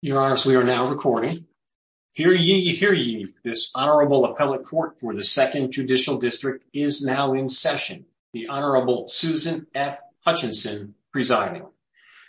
Your Honor, we are now recording. Hear ye, hear ye. This Honorable Appellate Court for the Second Judicial District is now in session. The Honorable Susan F. Hutchinson presiding.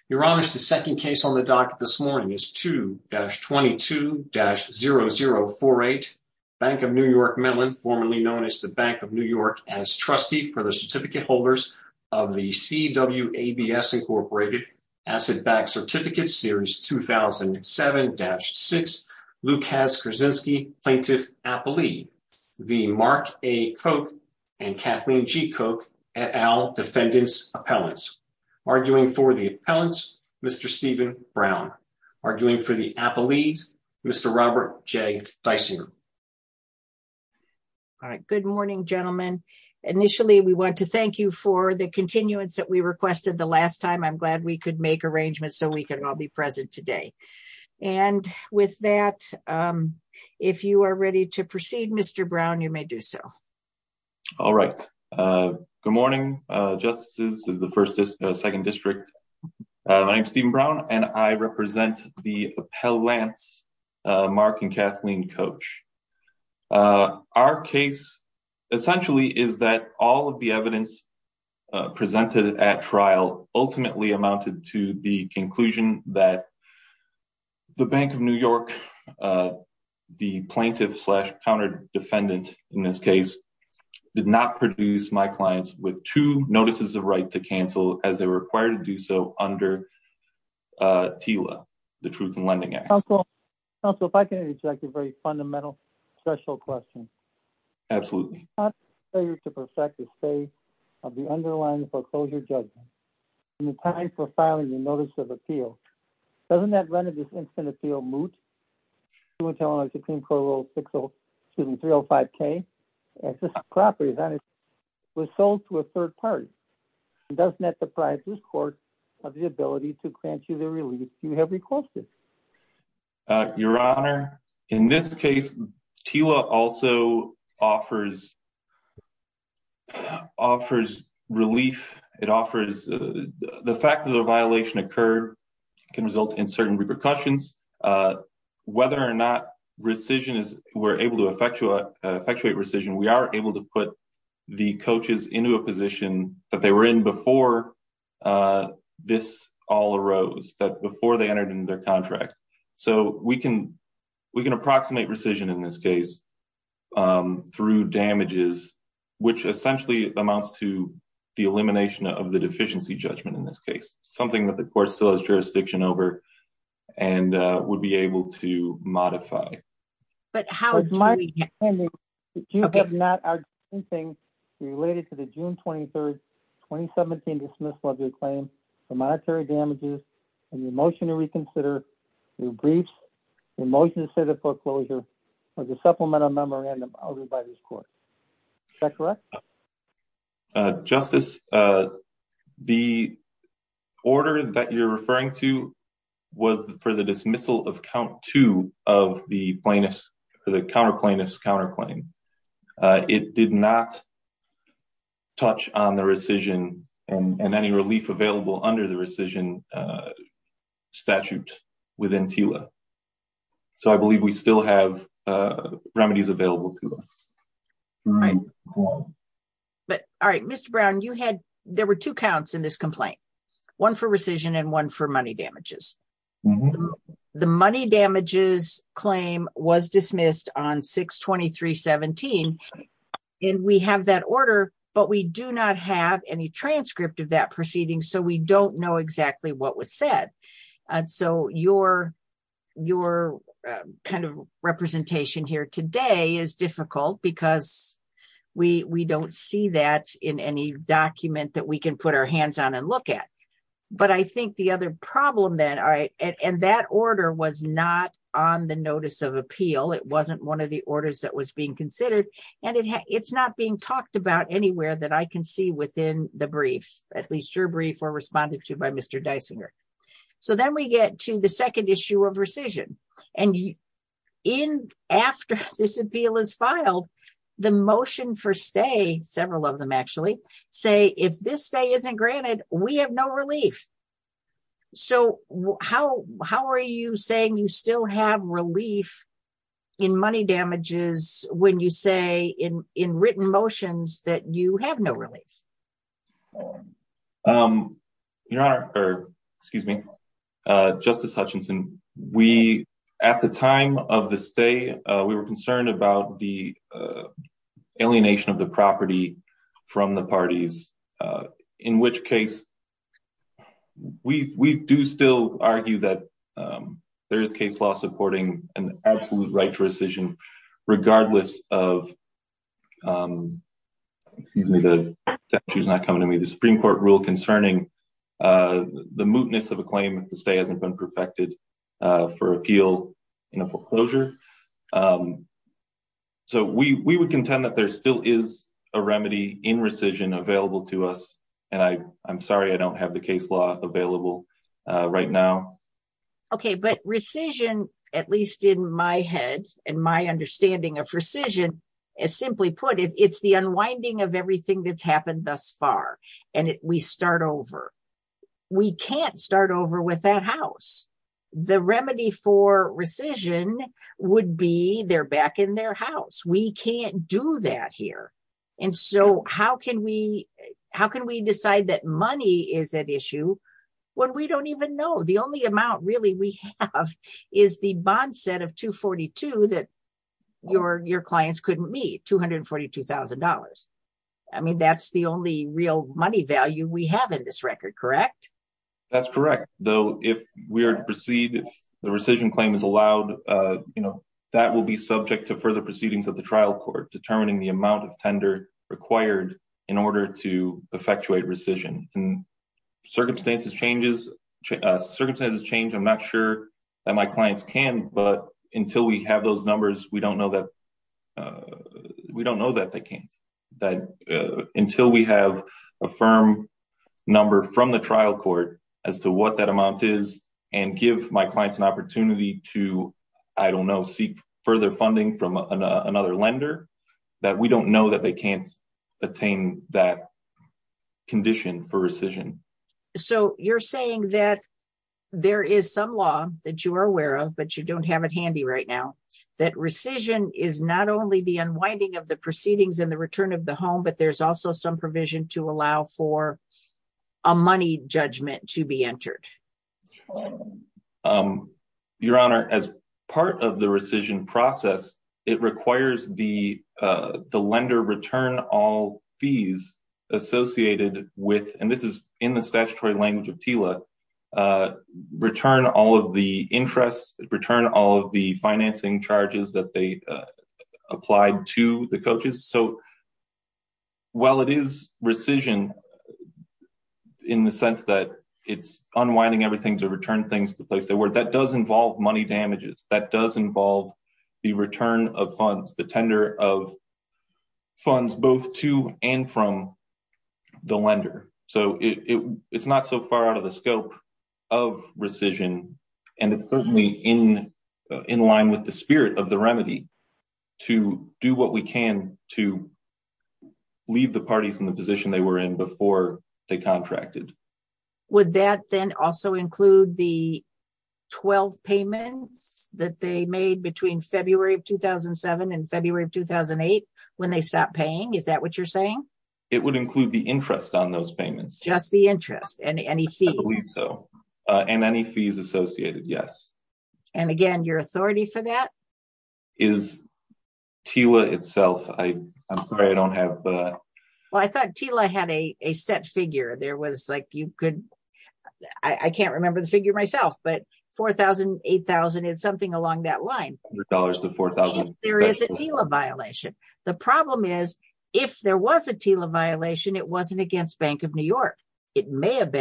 Your Honor, the second case on the docket this morning is 2-22-0048 Bank of New York Mellon, formerly known as the Bank of New York, as trustee for the certificate holders of the C. W. A. B. S. Incorporated Asset Backed Certificate Series 2007-6, Lukasz Krasinski, Plaintiff Appellee, the Mark A. Koch and Kathleen G. Koch et al. defendants appellants. Arguing for the appellants, Mr. Stephen Brown. Arguing for the appellees, Mr. Robert J. Dysinger. All right. Good morning, gentlemen. Initially, we want to thank you for the continuance that we requested the last time. I'm glad we could make arrangements so we can all be present today. And with that, if you are ready to proceed, Mr. Brown, you may do so. All right. Good morning, Justices of the First and Second District. My name is Stephen Brown, and I represent the appellants, Mark and Kathleen Koch. Our case essentially is that all of the evidence presented at trial ultimately amounted to the conclusion that the Bank of New York, the plaintiff slash counter defendant in this case, did not produce my clients with two notices of right to cancel as they were required to do so under TILA, the Truth in Lending Act. Counsel, if I can interject a very fundamental special question. Absolutely. Failure to perfect the state of the underlying foreclosure judgment in the time for filing a notice of appeal. Doesn't that render this instant appeal moot? It went to Illinois Supreme Court Rule 60, excuse me, 305K. This property was sold to a third party. Doesn't that deprive this court of the ability to grant you the relief you have requested? Your Honor, in this case, TILA also offers relief. It offers the fact that a violation occurred can result in certain repercussions. Whether or not rescission is we're able to effectuate rescission, we are able to put the coaches into a position that they were in before this all arose, that before they entered into their contract. So we can approximate rescission in this case through damages, which essentially amounts to the elimination of the deficiency judgment in this case, something that the court still has jurisdiction over and would be able to modify. But how do we- It's my understanding that you have not argued anything related to the June 23rd, 2017 dismissal of your claim for monetary damages and your motion to reconsider, your briefs, your motion to say the foreclosure was a supplemental memorandum ordered by this court. Is that correct? Justice, the order that you're referring to was for the dismissal of count two of the plaintiff's, the counter plaintiff's counterclaim. It did not touch on the rescission and any relief available under the rescission statute within TILA. So I believe we still have remedies available to us. But all right, Mr. Brown, you had, there were two counts in this complaint, one for rescission and one for money damages. The money damages claim was dismissed on 6-23-17. And we have that order, but we do not have any transcript of that proceeding. So we don't know exactly what was said. And so your kind of representation here today is difficult because we don't see that in any document that we can put our hands on and look at. But I think the other problem then, and that order was not on the notice of appeal. It wasn't one of the orders that was being considered and it's not being talked about anywhere that I can see within the brief, at least your brief or responded to by Mr. Dysinger. So then we get to the second issue of rescission. And after this appeal is filed, the motion for stay, several of them actually, say if this stay isn't granted, we have no relief. So how are you saying you still have relief in money damages when you say in written motions that you have no relief? Your Honor, or excuse me, Justice Hutchinson, we, at the time of the stay, we were concerned about the alienation of the property from the parties, in which case we do still argue that there is case law supporting an absolute right to rescission, regardless of, excuse me, the statute is not coming to me, the Supreme Court rule concerning the mootness of a claim if the stay hasn't been perfected for appeal in a foreclosure. So we would contend that there still is a remedy in rescission available to us. And I'm sorry, I don't have the case law available right now. Okay, but rescission, at least in my head and my understanding of rescission, as simply put, it's the unwinding of everything that's happened thus far, and we start over. We can't start over with that house. The remedy for rescission would be they're back in their house. We can't do that here. And so how can we decide that money is at issue when we don't even know? The only amount really we have is the bond set of 242 that your clients couldn't meet, $242,000. I mean, that's the only real money value we have in this record, correct? That's correct. Though, if we are to proceed, if the rescission claim is allowed, that will be subject to further proceedings of the trial court determining the amount of tender required in order to effectuate rescission. Circumstances change, I'm not sure that my clients can, but until we have those numbers, we don't know that they can't. Until we have a firm number from the trial court as to what that amount is and give my clients an opportunity to, I don't know, seek further funding from another lender, that we don't know that they can't attain that condition for rescission. So you're saying that there is some law that you are aware of, but you don't have it handy right now, that rescission is not only the unwinding of the proceedings and the return of the home, but there's also some provision to allow for a money judgment to be entered. Your Honor, as part of the rescission process, it requires the lender return all fees associated with, and this is in the statutory language of TILA, return all of the interest, return all of the financing charges that they applied to the coaches. So while it is rescission in the sense that it's unwinding everything to return things to the place they were, that does involve money damages, that does involve the return of funds, the tender of funds, both to and from the lender. So it's not so far out of the scope of rescission, and it's certainly in line with the spirit of the remedy to do what we can to leave the parties in the position they were in before they contracted. Would that then also include the 12 payments that they made between February of 2007 and February of 2008 when they stopped paying? Is that what you're saying? It would include the interest on those and any fees associated, yes. And again, your authority for that? Is TILA itself, I'm sorry, I don't have the... Well, I thought TILA had a set figure. There was like, you could, I can't remember the figure myself, but $4,000, $8,000 and something along that line. There is a TILA violation. The problem is, if there was a TILA violation, it wasn't against Bank of New York. It may have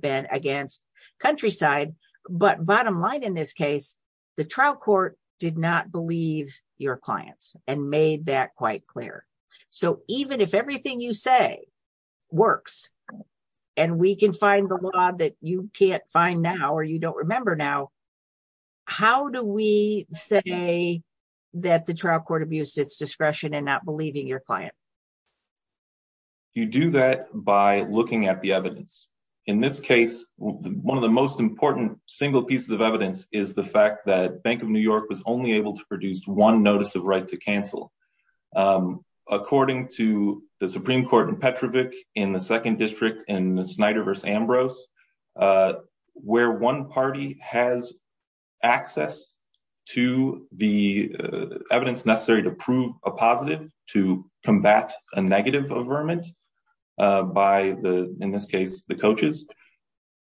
been against Countryside, but bottom line in this case, the trial court did not believe your clients and made that quite clear. So even if everything you say works and we can find the law that you can't find now, or you don't remember now, how do we say that the trial court abused its discretion and not believing your client? You do that by looking at the evidence. In this case, one of the most important single pieces of evidence is the fact that Bank of New York was only able to produce one notice of right to cancel. According to the Supreme Court in Petrovic in the second district in Snyder versus Ambrose, where one party has access to the evidence necessary to prove a positive, to combat a negative averment by the, in this case, the coaches,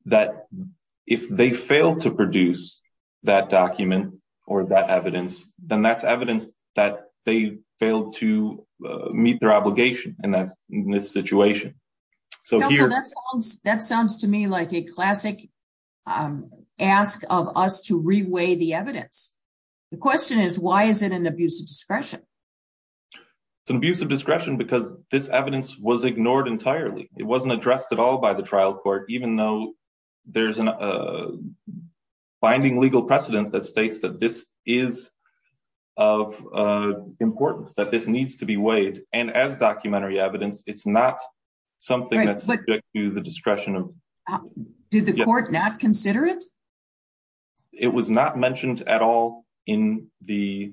that if they fail to produce that document or that evidence, then that's evidence that they failed to meet their obligation and that's in this situation. That sounds to me like a classic ask of us to reweigh the evidence. The question is, why is it an abuse of discretion? It's an abuse of discretion because this evidence was ignored entirely. It wasn't addressed at all by the trial court, even though there's a binding legal precedent that states that this is of importance, that this needs to be weighed. As documentary evidence, it's not something that's subject to the discretion of- Did the court not consider it? It was not mentioned at all in the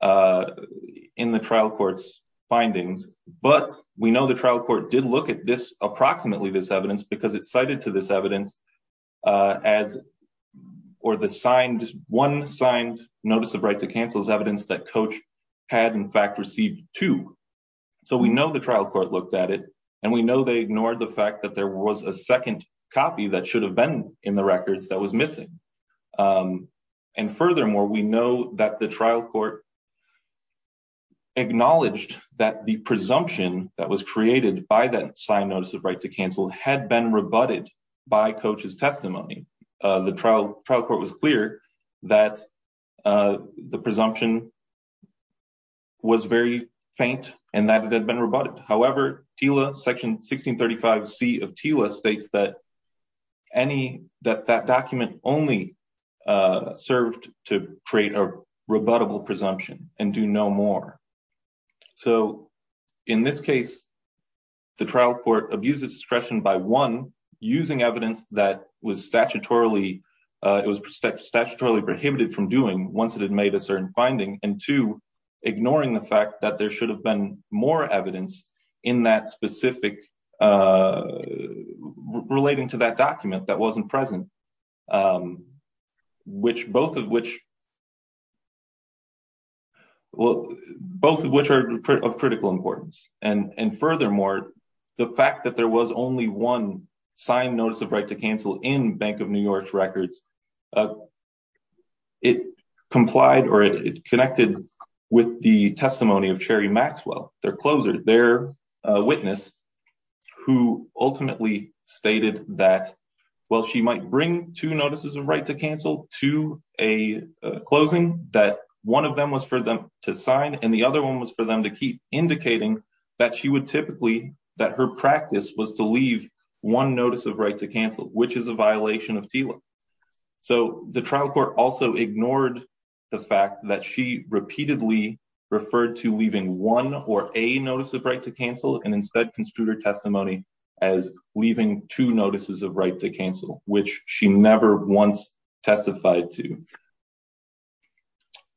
trial court's findings, but we know the trial court did look at this, approximately this evidence because it cited to this evidence as, or the signed, one signed notice of right to So we know the trial court looked at it and we know they ignored the fact that there was a second copy that should have been in the records that was missing. And furthermore, we know that the trial court acknowledged that the presumption that was created by that signed notice of right to cancel had been rebutted by coach's testimony. The trial trial court was clear that the presumption was very faint and that it had been rebutted. However, TILA section 1635 C of TILA states that any that that document only served to create a rebuttable presumption and do no more. So in this case, the trial court abuses discretion by one, using evidence that was statutorily, it was statutorily prohibited from doing once it had made a certain finding and two, ignoring the fact that there should have been more evidence in that specific, relating to that document that wasn't present, which both of which, well, both of which are of critical importance. And furthermore, the fact that there was only one notice of right to cancel in Bank of New York's records, it complied or it connected with the testimony of Cherry Maxwell, their closer, their witness, who ultimately stated that, well, she might bring two notices of right to cancel to a closing that one of them was for them to sign. And the other one was for them to keep indicating that she would typically, that her practice was to leave one notice of right to cancel, which is a violation of TILA. So the trial court also ignored the fact that she repeatedly referred to leaving one or a notice of right to cancel and instead construed her testimony as leaving two notices of right to cancel, which she never once testified to.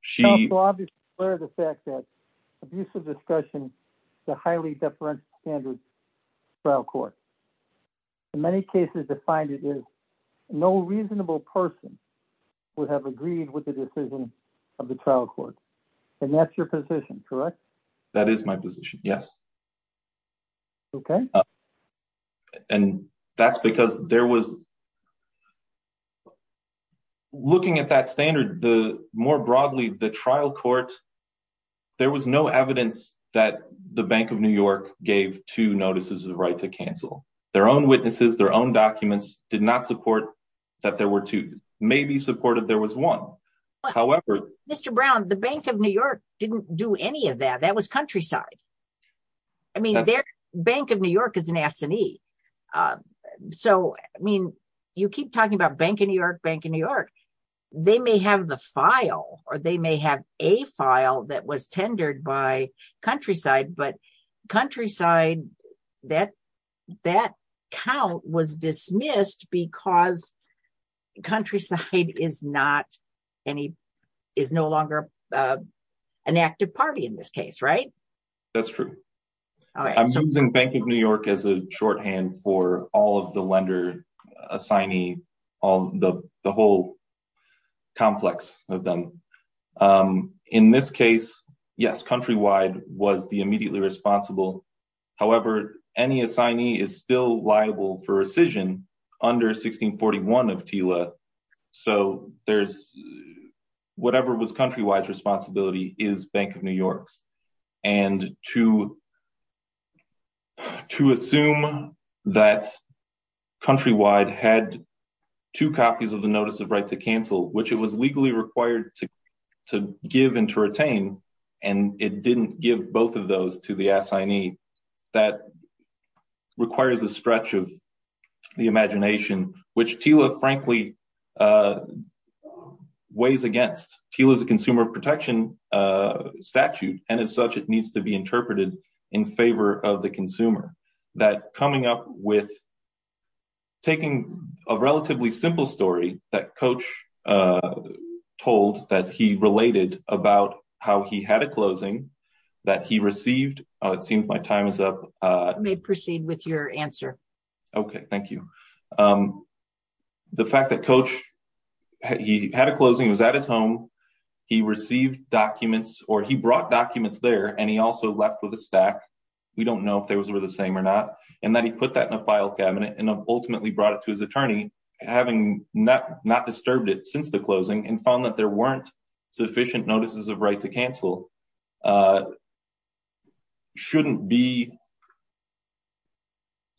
She... trial court. In many cases defined, it is no reasonable person would have agreed with the decision of the trial court. And that's your position, correct? That is my position. Yes. Okay. And that's because there was... looking at that standard, the more broadly, the trial court, there was no evidence that the Bank of New York gave two notices of right to cancel. Their own witnesses, their own documents did not support that there were two. Maybe supported there was one. However... Mr. Brown, the Bank of New York didn't do any of that. That was countryside. I mean, Bank of New York is an S&E. So, I mean, you keep talking about Bank of New York, Bank of New York. They may have the file or they may have a file that was tendered by countryside, but countryside, that count was dismissed because countryside is not any... is no longer an active party in this case, right? That's true. I'm using Bank of New York as a shorthand for all of the lender, assignee, all the whole complex of them. In this case, yes, Countrywide was the immediately responsible. However, any assignee is still liable for rescission under 1641 of TILA. So, there's... whatever was Countrywide's responsibility is Bank of New York's. And to... to assume that Countrywide had two copies of the Notice of Right to Cancel, which it was legally required to give and to retain, and it didn't give both of those to the assignee, that requires a stretch of the imagination, which TILA, frankly, weighs against. TILA is a consumer protection statute, and as such, it needs to be interpreted in favor of the consumer. That coming up with taking a relatively simple story that Coach told that he related about how he had a closing that he received. It seems my time is up. I may proceed with your answer. Okay, thank you. The fact that Coach, he had a closing, he was at his home, he received documents, or he brought documents there, and he also left with a stack. We don't know if those were the same or not. And then he put that in a file cabinet and ultimately brought it to his attorney, having not disturbed it since the closing, and found that there weren't sufficient notices of right to cancel, shouldn't be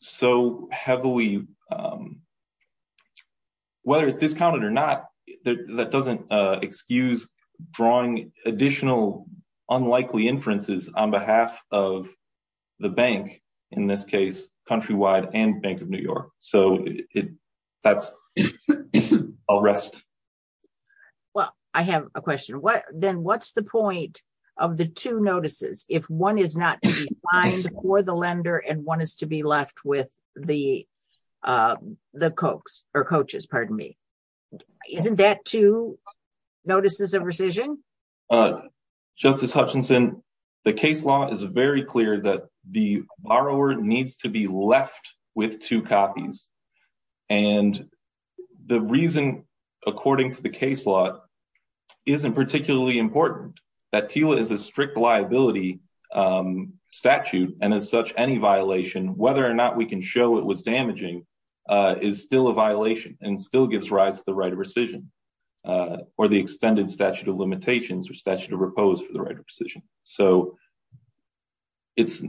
so heavily, whether it's discounted or not, that doesn't excuse drawing additional unlikely inferences on behalf of the bank, in this case, Countrywide and Bank of New York. So that's a rest. Well, I have a question. Then what's the point of the two notices if one is not for the lender and one is to be left with the coaches? Isn't that two notices of rescission? Justice Hutchinson, the case law is very clear that the borrower needs to be left with two copies. And the reason, according to the case law, isn't particularly important, that TILA is a strict liability statute, and as such, any violation, whether or not we can show it was damaging, is still a violation and still gives rise to the right of rescission, or the extended statute of limitations or statute of repose for the right of rescission. So it's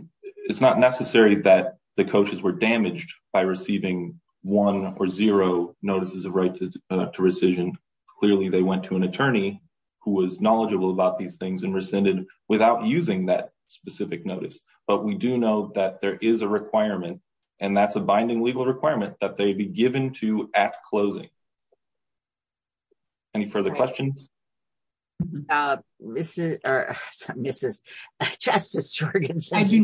not necessary that the coaches were damaged by receiving one or zero notices of right to rescission. Clearly, they went to an attorney who was knowledgeable about these things and rescinded without using that specific notice. But we do know that there is a requirement, and that's a binding legal requirement, that they be given to at closing. Any further questions? I do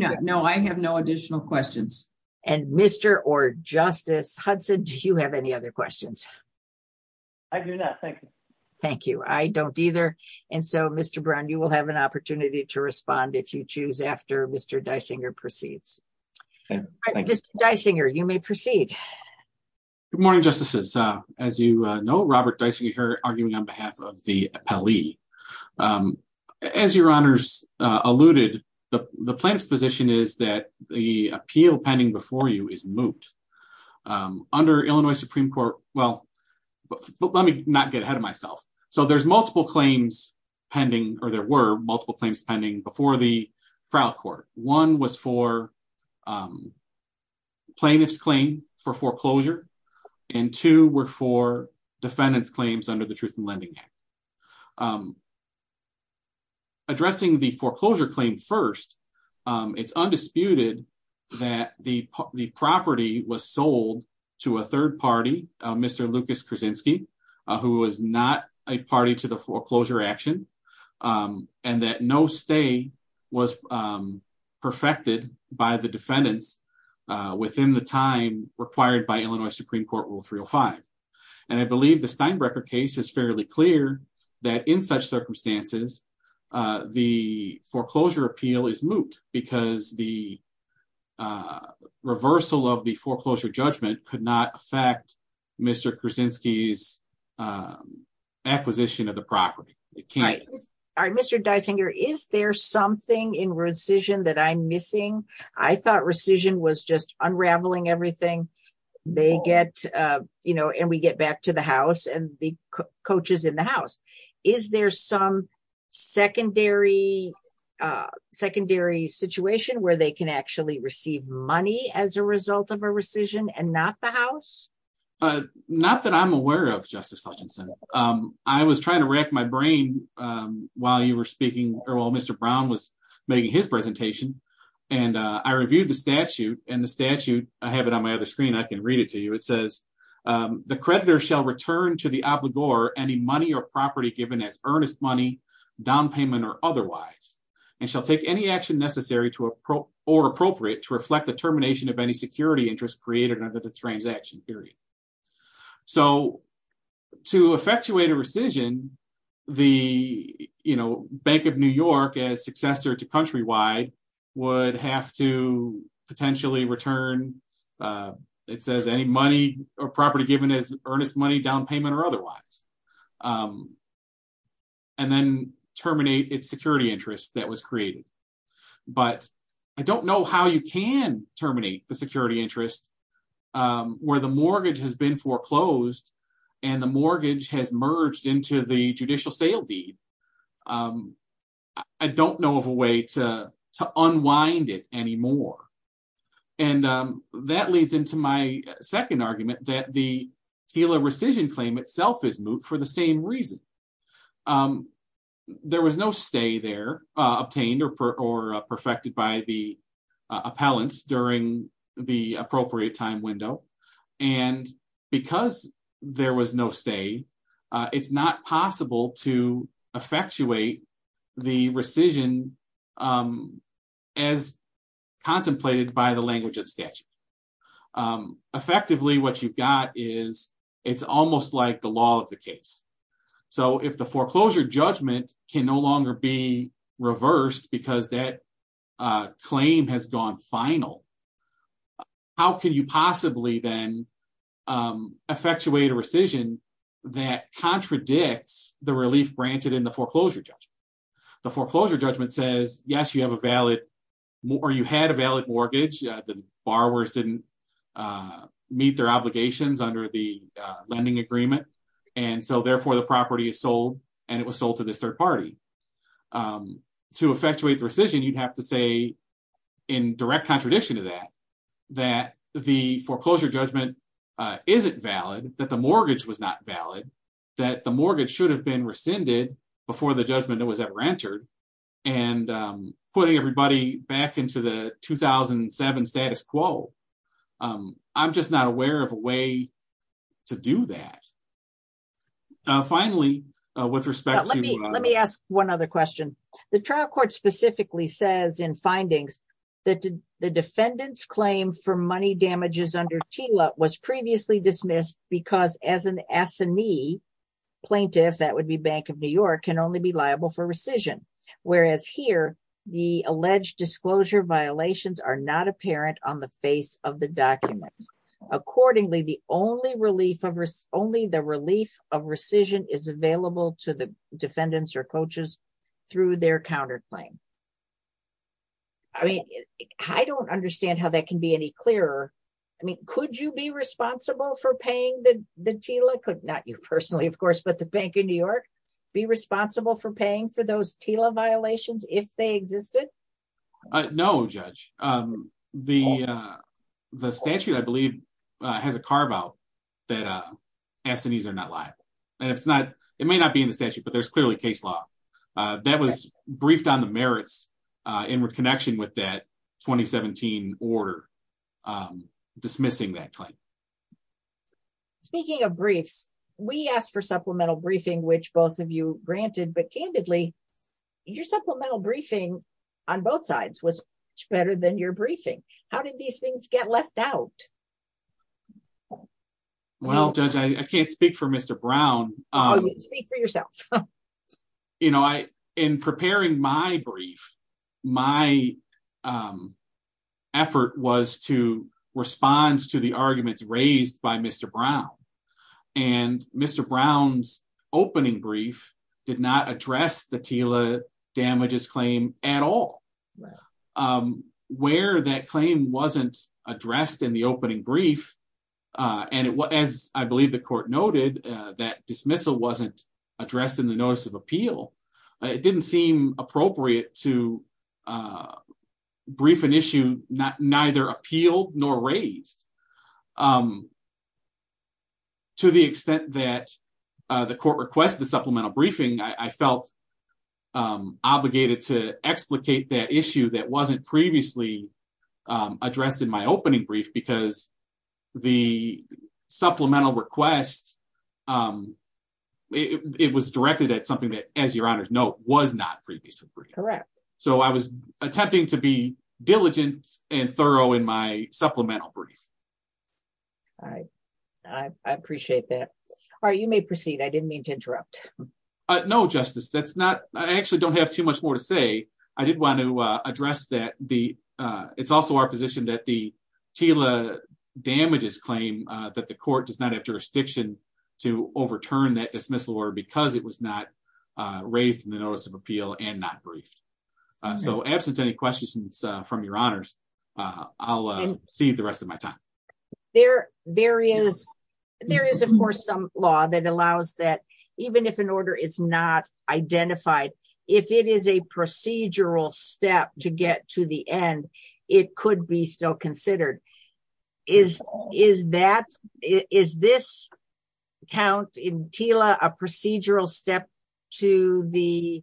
not. No, I have no additional questions. And Mr. or Justice Hudson, do you have any other questions? I do not. Thank you. Thank you. I don't either. And so, Mr. Brown, you will have an opportunity to respond if you choose after Mr. Dysinger proceeds. Mr. Dysinger, you may proceed. Good morning, Justices. As you know, Robert Dysinger here arguing on behalf of the appellee. As your honors alluded, the plaintiff's position is that the appeal pending before you is moot. Under Illinois Supreme Court, well, let me not get ahead of myself. So there's multiple claims pending, or there were multiple claims pending before the trial court. One was for plaintiff's for foreclosure, and two were for defendant's claims under the Truth in Lending Act. Addressing the foreclosure claim first, it's undisputed that the property was sold to a third party, Mr. Lucas Krasinski, who was not a party to the foreclosure action, and that no stay was perfected by the defendants within the time required by Illinois Supreme Court Rule 305. And I believe the Steinbrecher case is fairly clear that in such circumstances, the foreclosure appeal is moot because the reversal of the foreclosure judgment could not affect Mr. Krasinski's acquisition of the property. All right, Mr. Dysinger, is there something in rescission that I'm missing? I thought rescission was just unraveling everything. They get, you know, and we get back to the house and the coaches in the house. Is there some secondary situation where they can actually receive money as a result of a rescission and not the house? Not that I'm aware of, Justice Hutchinson. I was trying to rack my brain while you were speaking, or while Mr. Brown was making his presentation, and I reviewed the statute, and the statute, I have it on my other screen, I can read it to you. It says, the creditor shall return to the obligor any money or property given as earnest money, down payment or otherwise, and shall take any action necessary to or appropriate to reflect the termination of any security interest created under the transaction period. So, to effectuate a rescission, the, you know, Bank of New York, as successor to Countrywide, would have to potentially return, it says, any money or property given as earnest money, down payment or otherwise, and then terminate its security interest that was created. But I don't know how you can terminate the security interest where the mortgage has been foreclosed, and the mortgage has merged into the judicial sale deed. I don't know of a way to unwind it anymore. And that leads into my second argument, that the TELA rescission claim itself is moot for the same reason. There was no stay there, obtained or perfected by the appellants during the appropriate time window. And because there was no stay, it's not possible to effectuate the rescission as contemplated by the language of statute. Effectively, what you've got is, it's almost like the law of the case. So, if the foreclosure judgment can no longer be reversed, because that claim has gone final, how can you possibly then effectuate a rescission that contradicts the relief granted in the foreclosure judgment? The foreclosure judgment says, yes, you have a valid, or you had a valid mortgage. The borrowers didn't meet their obligations under the lending agreement. And so, therefore, the property is sold, and it was sold to this third party. To effectuate the rescission, you'd have to say, in direct contradiction to that, that the foreclosure judgment isn't valid, that the mortgage was not valid, that the mortgage should have been rescinded before the judgment was ever entered. And putting everybody back into the 2007 status quo, I'm just not aware of a way to do that. Finally, with respect to- Let me ask one other question. The trial court specifically says in findings that the defendant's claim for money damages under TILA was previously dismissed because, as an assinee plaintiff, that would be Bank of New York, can only be liable for rescission. Whereas here, the alleged disclosure violations are not apparent on the face of the documents. Accordingly, the only relief of rescission is available to the defendants or coaches through their counterclaim. I mean, I don't understand how that can be any clearer. I mean, could you be responsible for paying the TILA? Could not you personally, of course, but the Bank of New York be responsible for paying for those TILA violations if they existed? No, Judge. The statute, I believe, has a carve-out that assinees are not liable. It may not be in the statute, but there's clearly case law that was briefed on the merits in connection with that 2017 order dismissing that claim. Speaking of briefs, we asked for supplemental briefing, which both of you granted, but supplemental briefing on both sides was better than your briefing. How did these things get left out? Well, Judge, I can't speak for Mr. Brown. Speak for yourself. In preparing my brief, my effort was to respond to the arguments raised by Mr. Brown. And Mr. Brown's opening brief did not address the TILA damages claim at all. Where that claim wasn't addressed in the opening brief, and as I believe the court noted, that dismissal wasn't addressed in the notice of appeal. It didn't seem appropriate to neither appeal nor raise. To the extent that the court requested the supplemental briefing, I felt obligated to explicate that issue that wasn't previously addressed in my opening brief because the supplemental request, it was directed at something that, as your honors note, was not previously briefed. So I was attempting to be diligent and thorough in my supplemental brief. All right. I appreciate that. All right. You may proceed. I didn't mean to interrupt. No, Justice. I actually don't have too much more to say. I did want to address that it's also our position that the TILA damages claim that the court does not have jurisdiction to overturn that dismissal order because it was not raised in the notice of from your honors. I'll see the rest of my time. There is, of course, some law that allows that even if an order is not identified, if it is a procedural step to get to the end, it could be still considered. Is this count in TILA a procedural step to the foreclosure? I don't believe that's the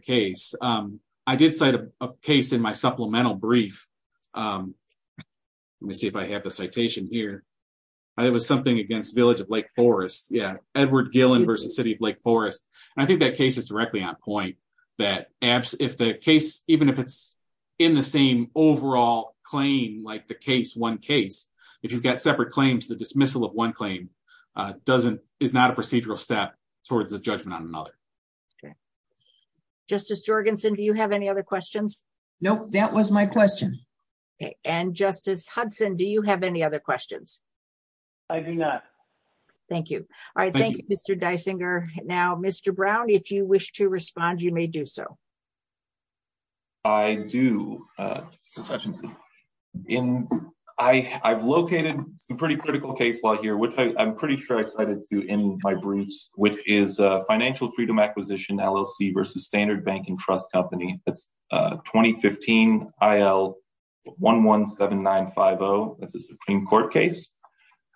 case. I did cite a case in my supplemental brief. Let me see if I have the citation here. It was something against Village of Lake Forest. Yeah, Edward Gillen versus City of Lake Forest. I think that case is directly on point that if the case, even if it's in the same overall claim like the case, one case, if you've got separate claims, the dismissal of one claim is not a procedural step towards the judgment on another. Okay, Justice Jorgensen, do you have any other questions? Nope, that was my question. Okay, and Justice Hudson, do you have any other questions? I do not. Thank you. All right, thank you, Mr. Dysinger. Now, Mr. Brown, if you wish to respond, you may do so. I do. I've located a pretty critical case law here, which I'm pretty sure I cited to in my acquisition, LLC versus Standard Bank and Trust Company. That's 2015 IL 117950. That's a Supreme Court case,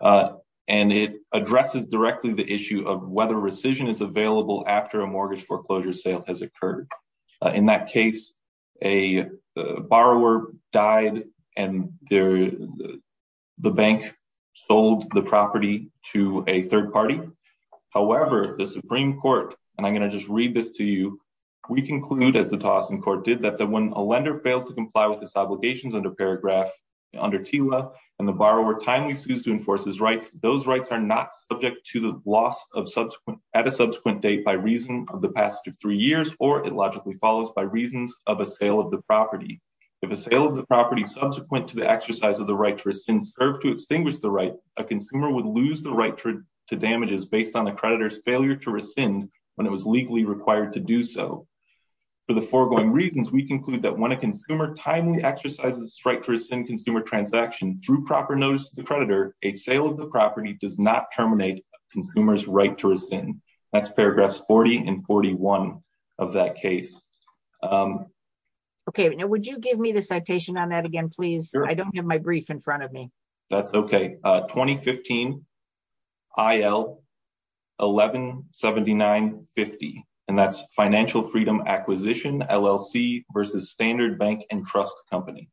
and it addresses directly the issue of whether rescission is available after a mortgage foreclosure sale has occurred. In that case, a borrower died and the bank sold the property to a third party. However, the Supreme Court, and I'm going to just read this to you, we conclude, as the Tawasen Court did, that when a lender fails to comply with his obligations under paragraph, under TILA, and the borrower timely sues to enforce his rights, those rights are not subject to the loss at a subsequent date by reason of the passage of three years, or it logically follows by reasons of a sale of the property. If a sale of the property subsequent to the exercise of the right to rescind served to extinguish the right, a consumer would lose the right to damages based on the creditor's failure to rescind when it was legally required to do so. For the foregoing reasons, we conclude that when a consumer timely exercises strike to rescind consumer transaction through proper notice to the creditor, a sale of the property does not terminate a consumer's right to rescind. That's paragraphs 40 and 41 of that case. Okay, now would you give me the citation on that again, please? I don't have my brief in front of me. That's okay. 2015 IL 1179.50, and that's Financial Freedom Acquisition LLC versus Standard Bank and Trust Company.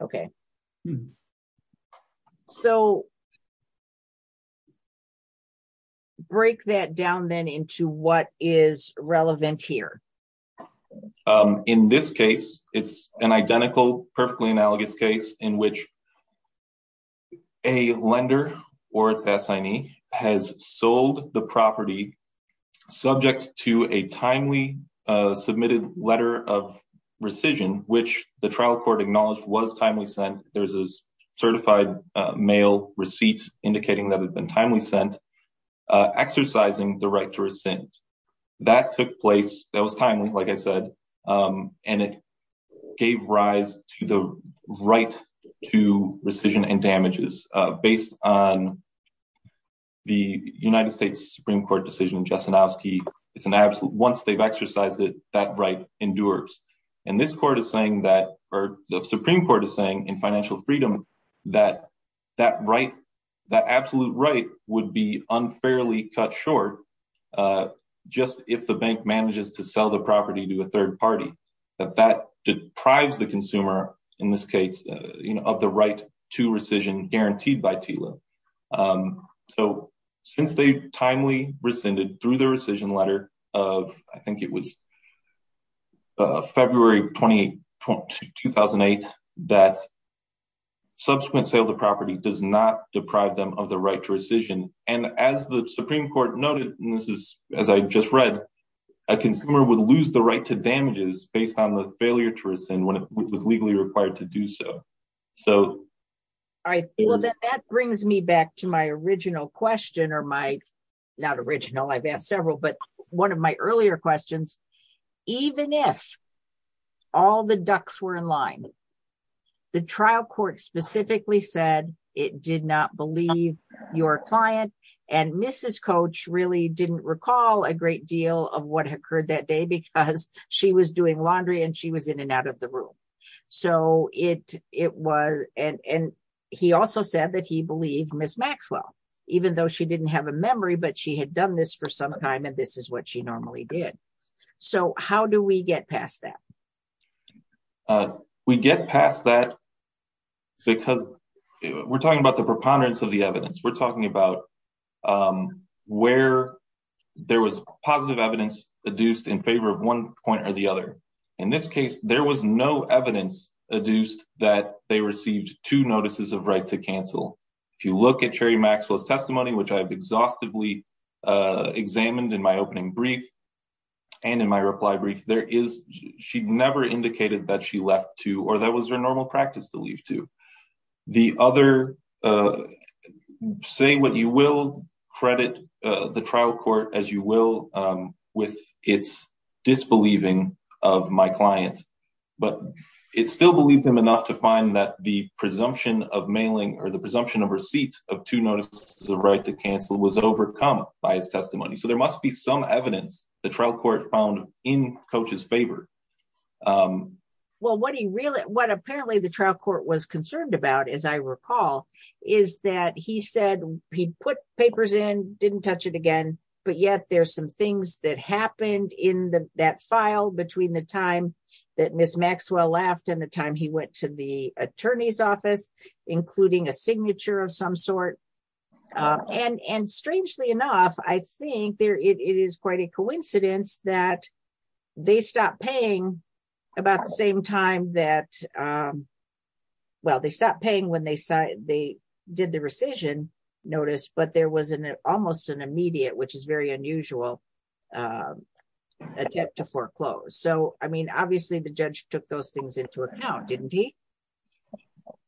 Okay, so let's break that down then into what is relevant here. In this case, it's an identical, perfectly analogous case in which a lender or a fatsignee has sold the property subject to a timely submitted letter of rescission, which the trial court acknowledged was timely sent. There's a mail receipt indicating that it's been timely sent, exercising the right to rescind. That took place, that was timely, like I said, and it gave rise to the right to rescission and damages based on the United States Supreme Court decision in Jesenowski. Once they've exercised it, that right that absolute right would be unfairly cut short just if the bank manages to sell the property to a third party, that that deprives the consumer, in this case, of the right to rescission guaranteed by TILA. So since they've timely rescinded through the rescission letter of, I think it was February 28, 2008, that subsequent sale of the property does not deprive them of the right to rescission. And as the Supreme Court noted, and this is as I just read, a consumer would lose the right to damages based on the failure to rescind when it was legally required to do so. All right, well then that brings me back to my original question or my, not original, I've asked several, but one of my earlier questions, even if all the ducks were in line, the trial court specifically said it did not believe your client and Mrs. Coach really didn't recall a great deal of what occurred that day because she was doing laundry and she was in and out of the room. So it was, and he also said that he believed Ms. Maxwell, even though she didn't have a memory, but she had done this for some time and this is what she normally did. So how do we get past that? We get past that because we're talking about the preponderance of the evidence. We're talking about where there was positive evidence adduced in favor of one point or the other. In this case, there was no evidence adduced that they received two notices of right to cancel. If you look at Mary Maxwell's testimony, which I've exhaustively examined in my opening brief and in my reply brief, there is, she never indicated that she left to, or that was her normal practice to leave to. The other, say what you will, credit the trial court as you will with its disbelieving of my client, but it still believed him enough to find that the presumption of mailing or the presumption of receipt of two notices of right to cancel was overcome by his testimony. So there must be some evidence the trial court found in Coach's favor. Well, what he really, what apparently the trial court was concerned about, as I recall, is that he said he'd put papers in, didn't touch it again, but yet there's some things that happened in that file between the time that Ms. Maxwell left and the time he went to the attorney's office, including a signature of some sort. And strangely enough, I think it is quite a coincidence that they stopped paying about the same time that, well, they stopped paying when they did the rescission notice, but there was an almost an immediate, which is very unusual, attempt to foreclose. So, I mean, obviously the judge took those things into account, didn't he?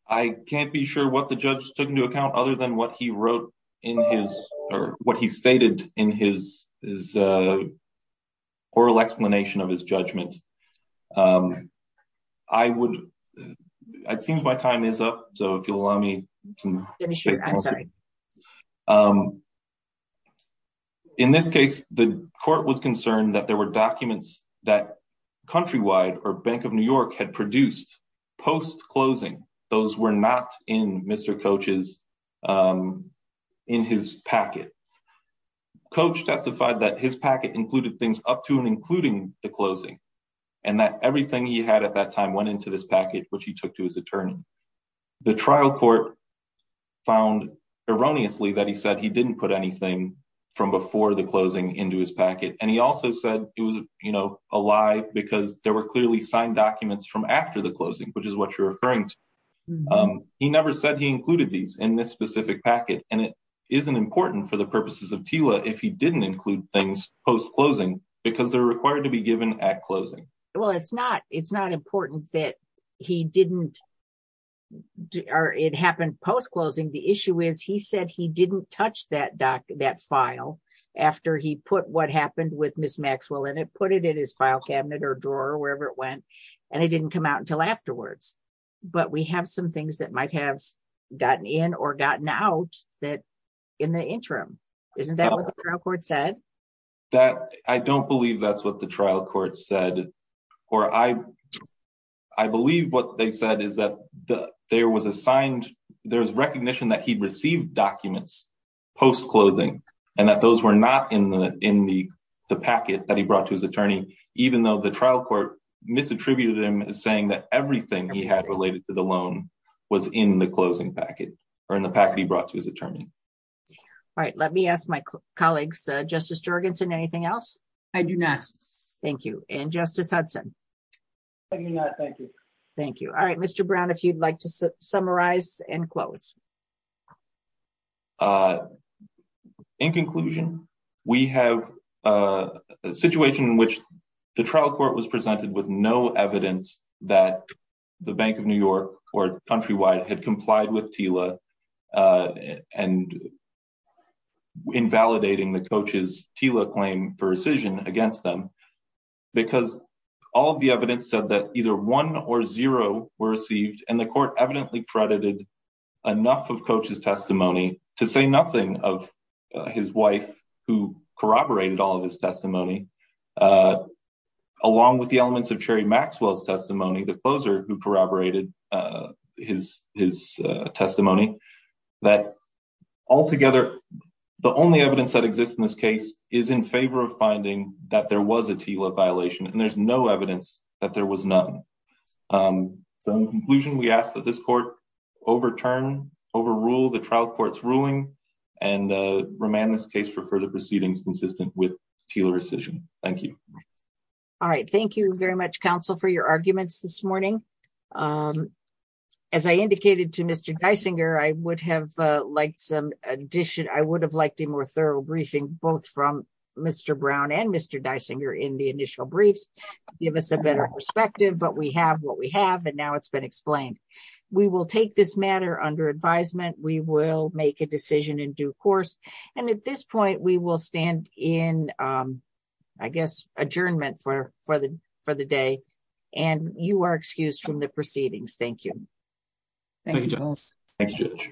I can't be sure what the judge took into account other than what he wrote in his, or what he stated in his oral explanation of his judgment. I would, it seems my time is up, so if you'll allow me to finish. I'm sorry. In this case, the court was concerned that there were documents that Countrywide or Bank of New York had produced post-closing. Those were not in Mr. Coach's, in his packet. Coach testified that his packet included things up to and including the closing, and that everything he had at that time went into this packet, which he took to his attorney. The trial court found erroneously that he said he didn't put anything from before the closing into his packet, and he also said it was, you know, a lie because there were clearly signed documents from after the closing, which is what you're referring to. He never said he included these in this specific packet, and it isn't important for the purposes of TILA if he didn't include things post-closing, because they're required to be given at closing. Well, it's not important that he didn't, or it happened post-closing. The issue is he said he didn't touch that file after he put what happened with Ms. Maxwell put it in his file cabinet or drawer, wherever it went, and it didn't come out until afterwards, but we have some things that might have gotten in or gotten out that in the interim. Isn't that what the trial court said? I don't believe that's what the trial court said, or I I believe what they said is that there was assigned, there's recognition that he received documents post-closing, and that those were not in the packet that he brought to his attorney, even though the trial court misattributed him as saying that everything he had related to the loan was in the closing packet, or in the packet he brought to his attorney. All right, let me ask my colleagues, Justice Jorgensen, anything else? I do not. Thank you, and Justice Hudson? I do not, thank you. Thank you. All right, Mr. Brown, if you'd like to summarize and close. In conclusion, we have a situation in which the trial court was presented with no evidence that the Bank of New York or Countrywide had complied with TILA and invalidating the coach's TILA claim for rescission against them, because all the evidence said that one or zero were received, and the court evidently credited enough of coach's testimony to say nothing of his wife, who corroborated all of his testimony, along with the elements of Sherry Maxwell's testimony, the closer who corroborated his testimony, that altogether the only evidence that exists in this case is in favor of finding that there was a TILA violation, and there's no other evidence. In conclusion, we ask that this court overturn, overrule the trial court's ruling and remand this case for further proceedings consistent with TILA rescission. Thank you. All right, thank you very much, counsel, for your arguments this morning. As I indicated to Mr. Geisinger, I would have liked some addition, I would have liked a more thorough briefing, both from Mr. Brown and Mr. Geisinger in the initial briefs, give us a better perspective, but we have what we have, and now it's been explained. We will take this matter under advisement. We will make a decision in due course, and at this point we will stand in, I guess, adjournment for the day, and you are excused from the proceedings. Thank you. Thank you. Thank you, Judge.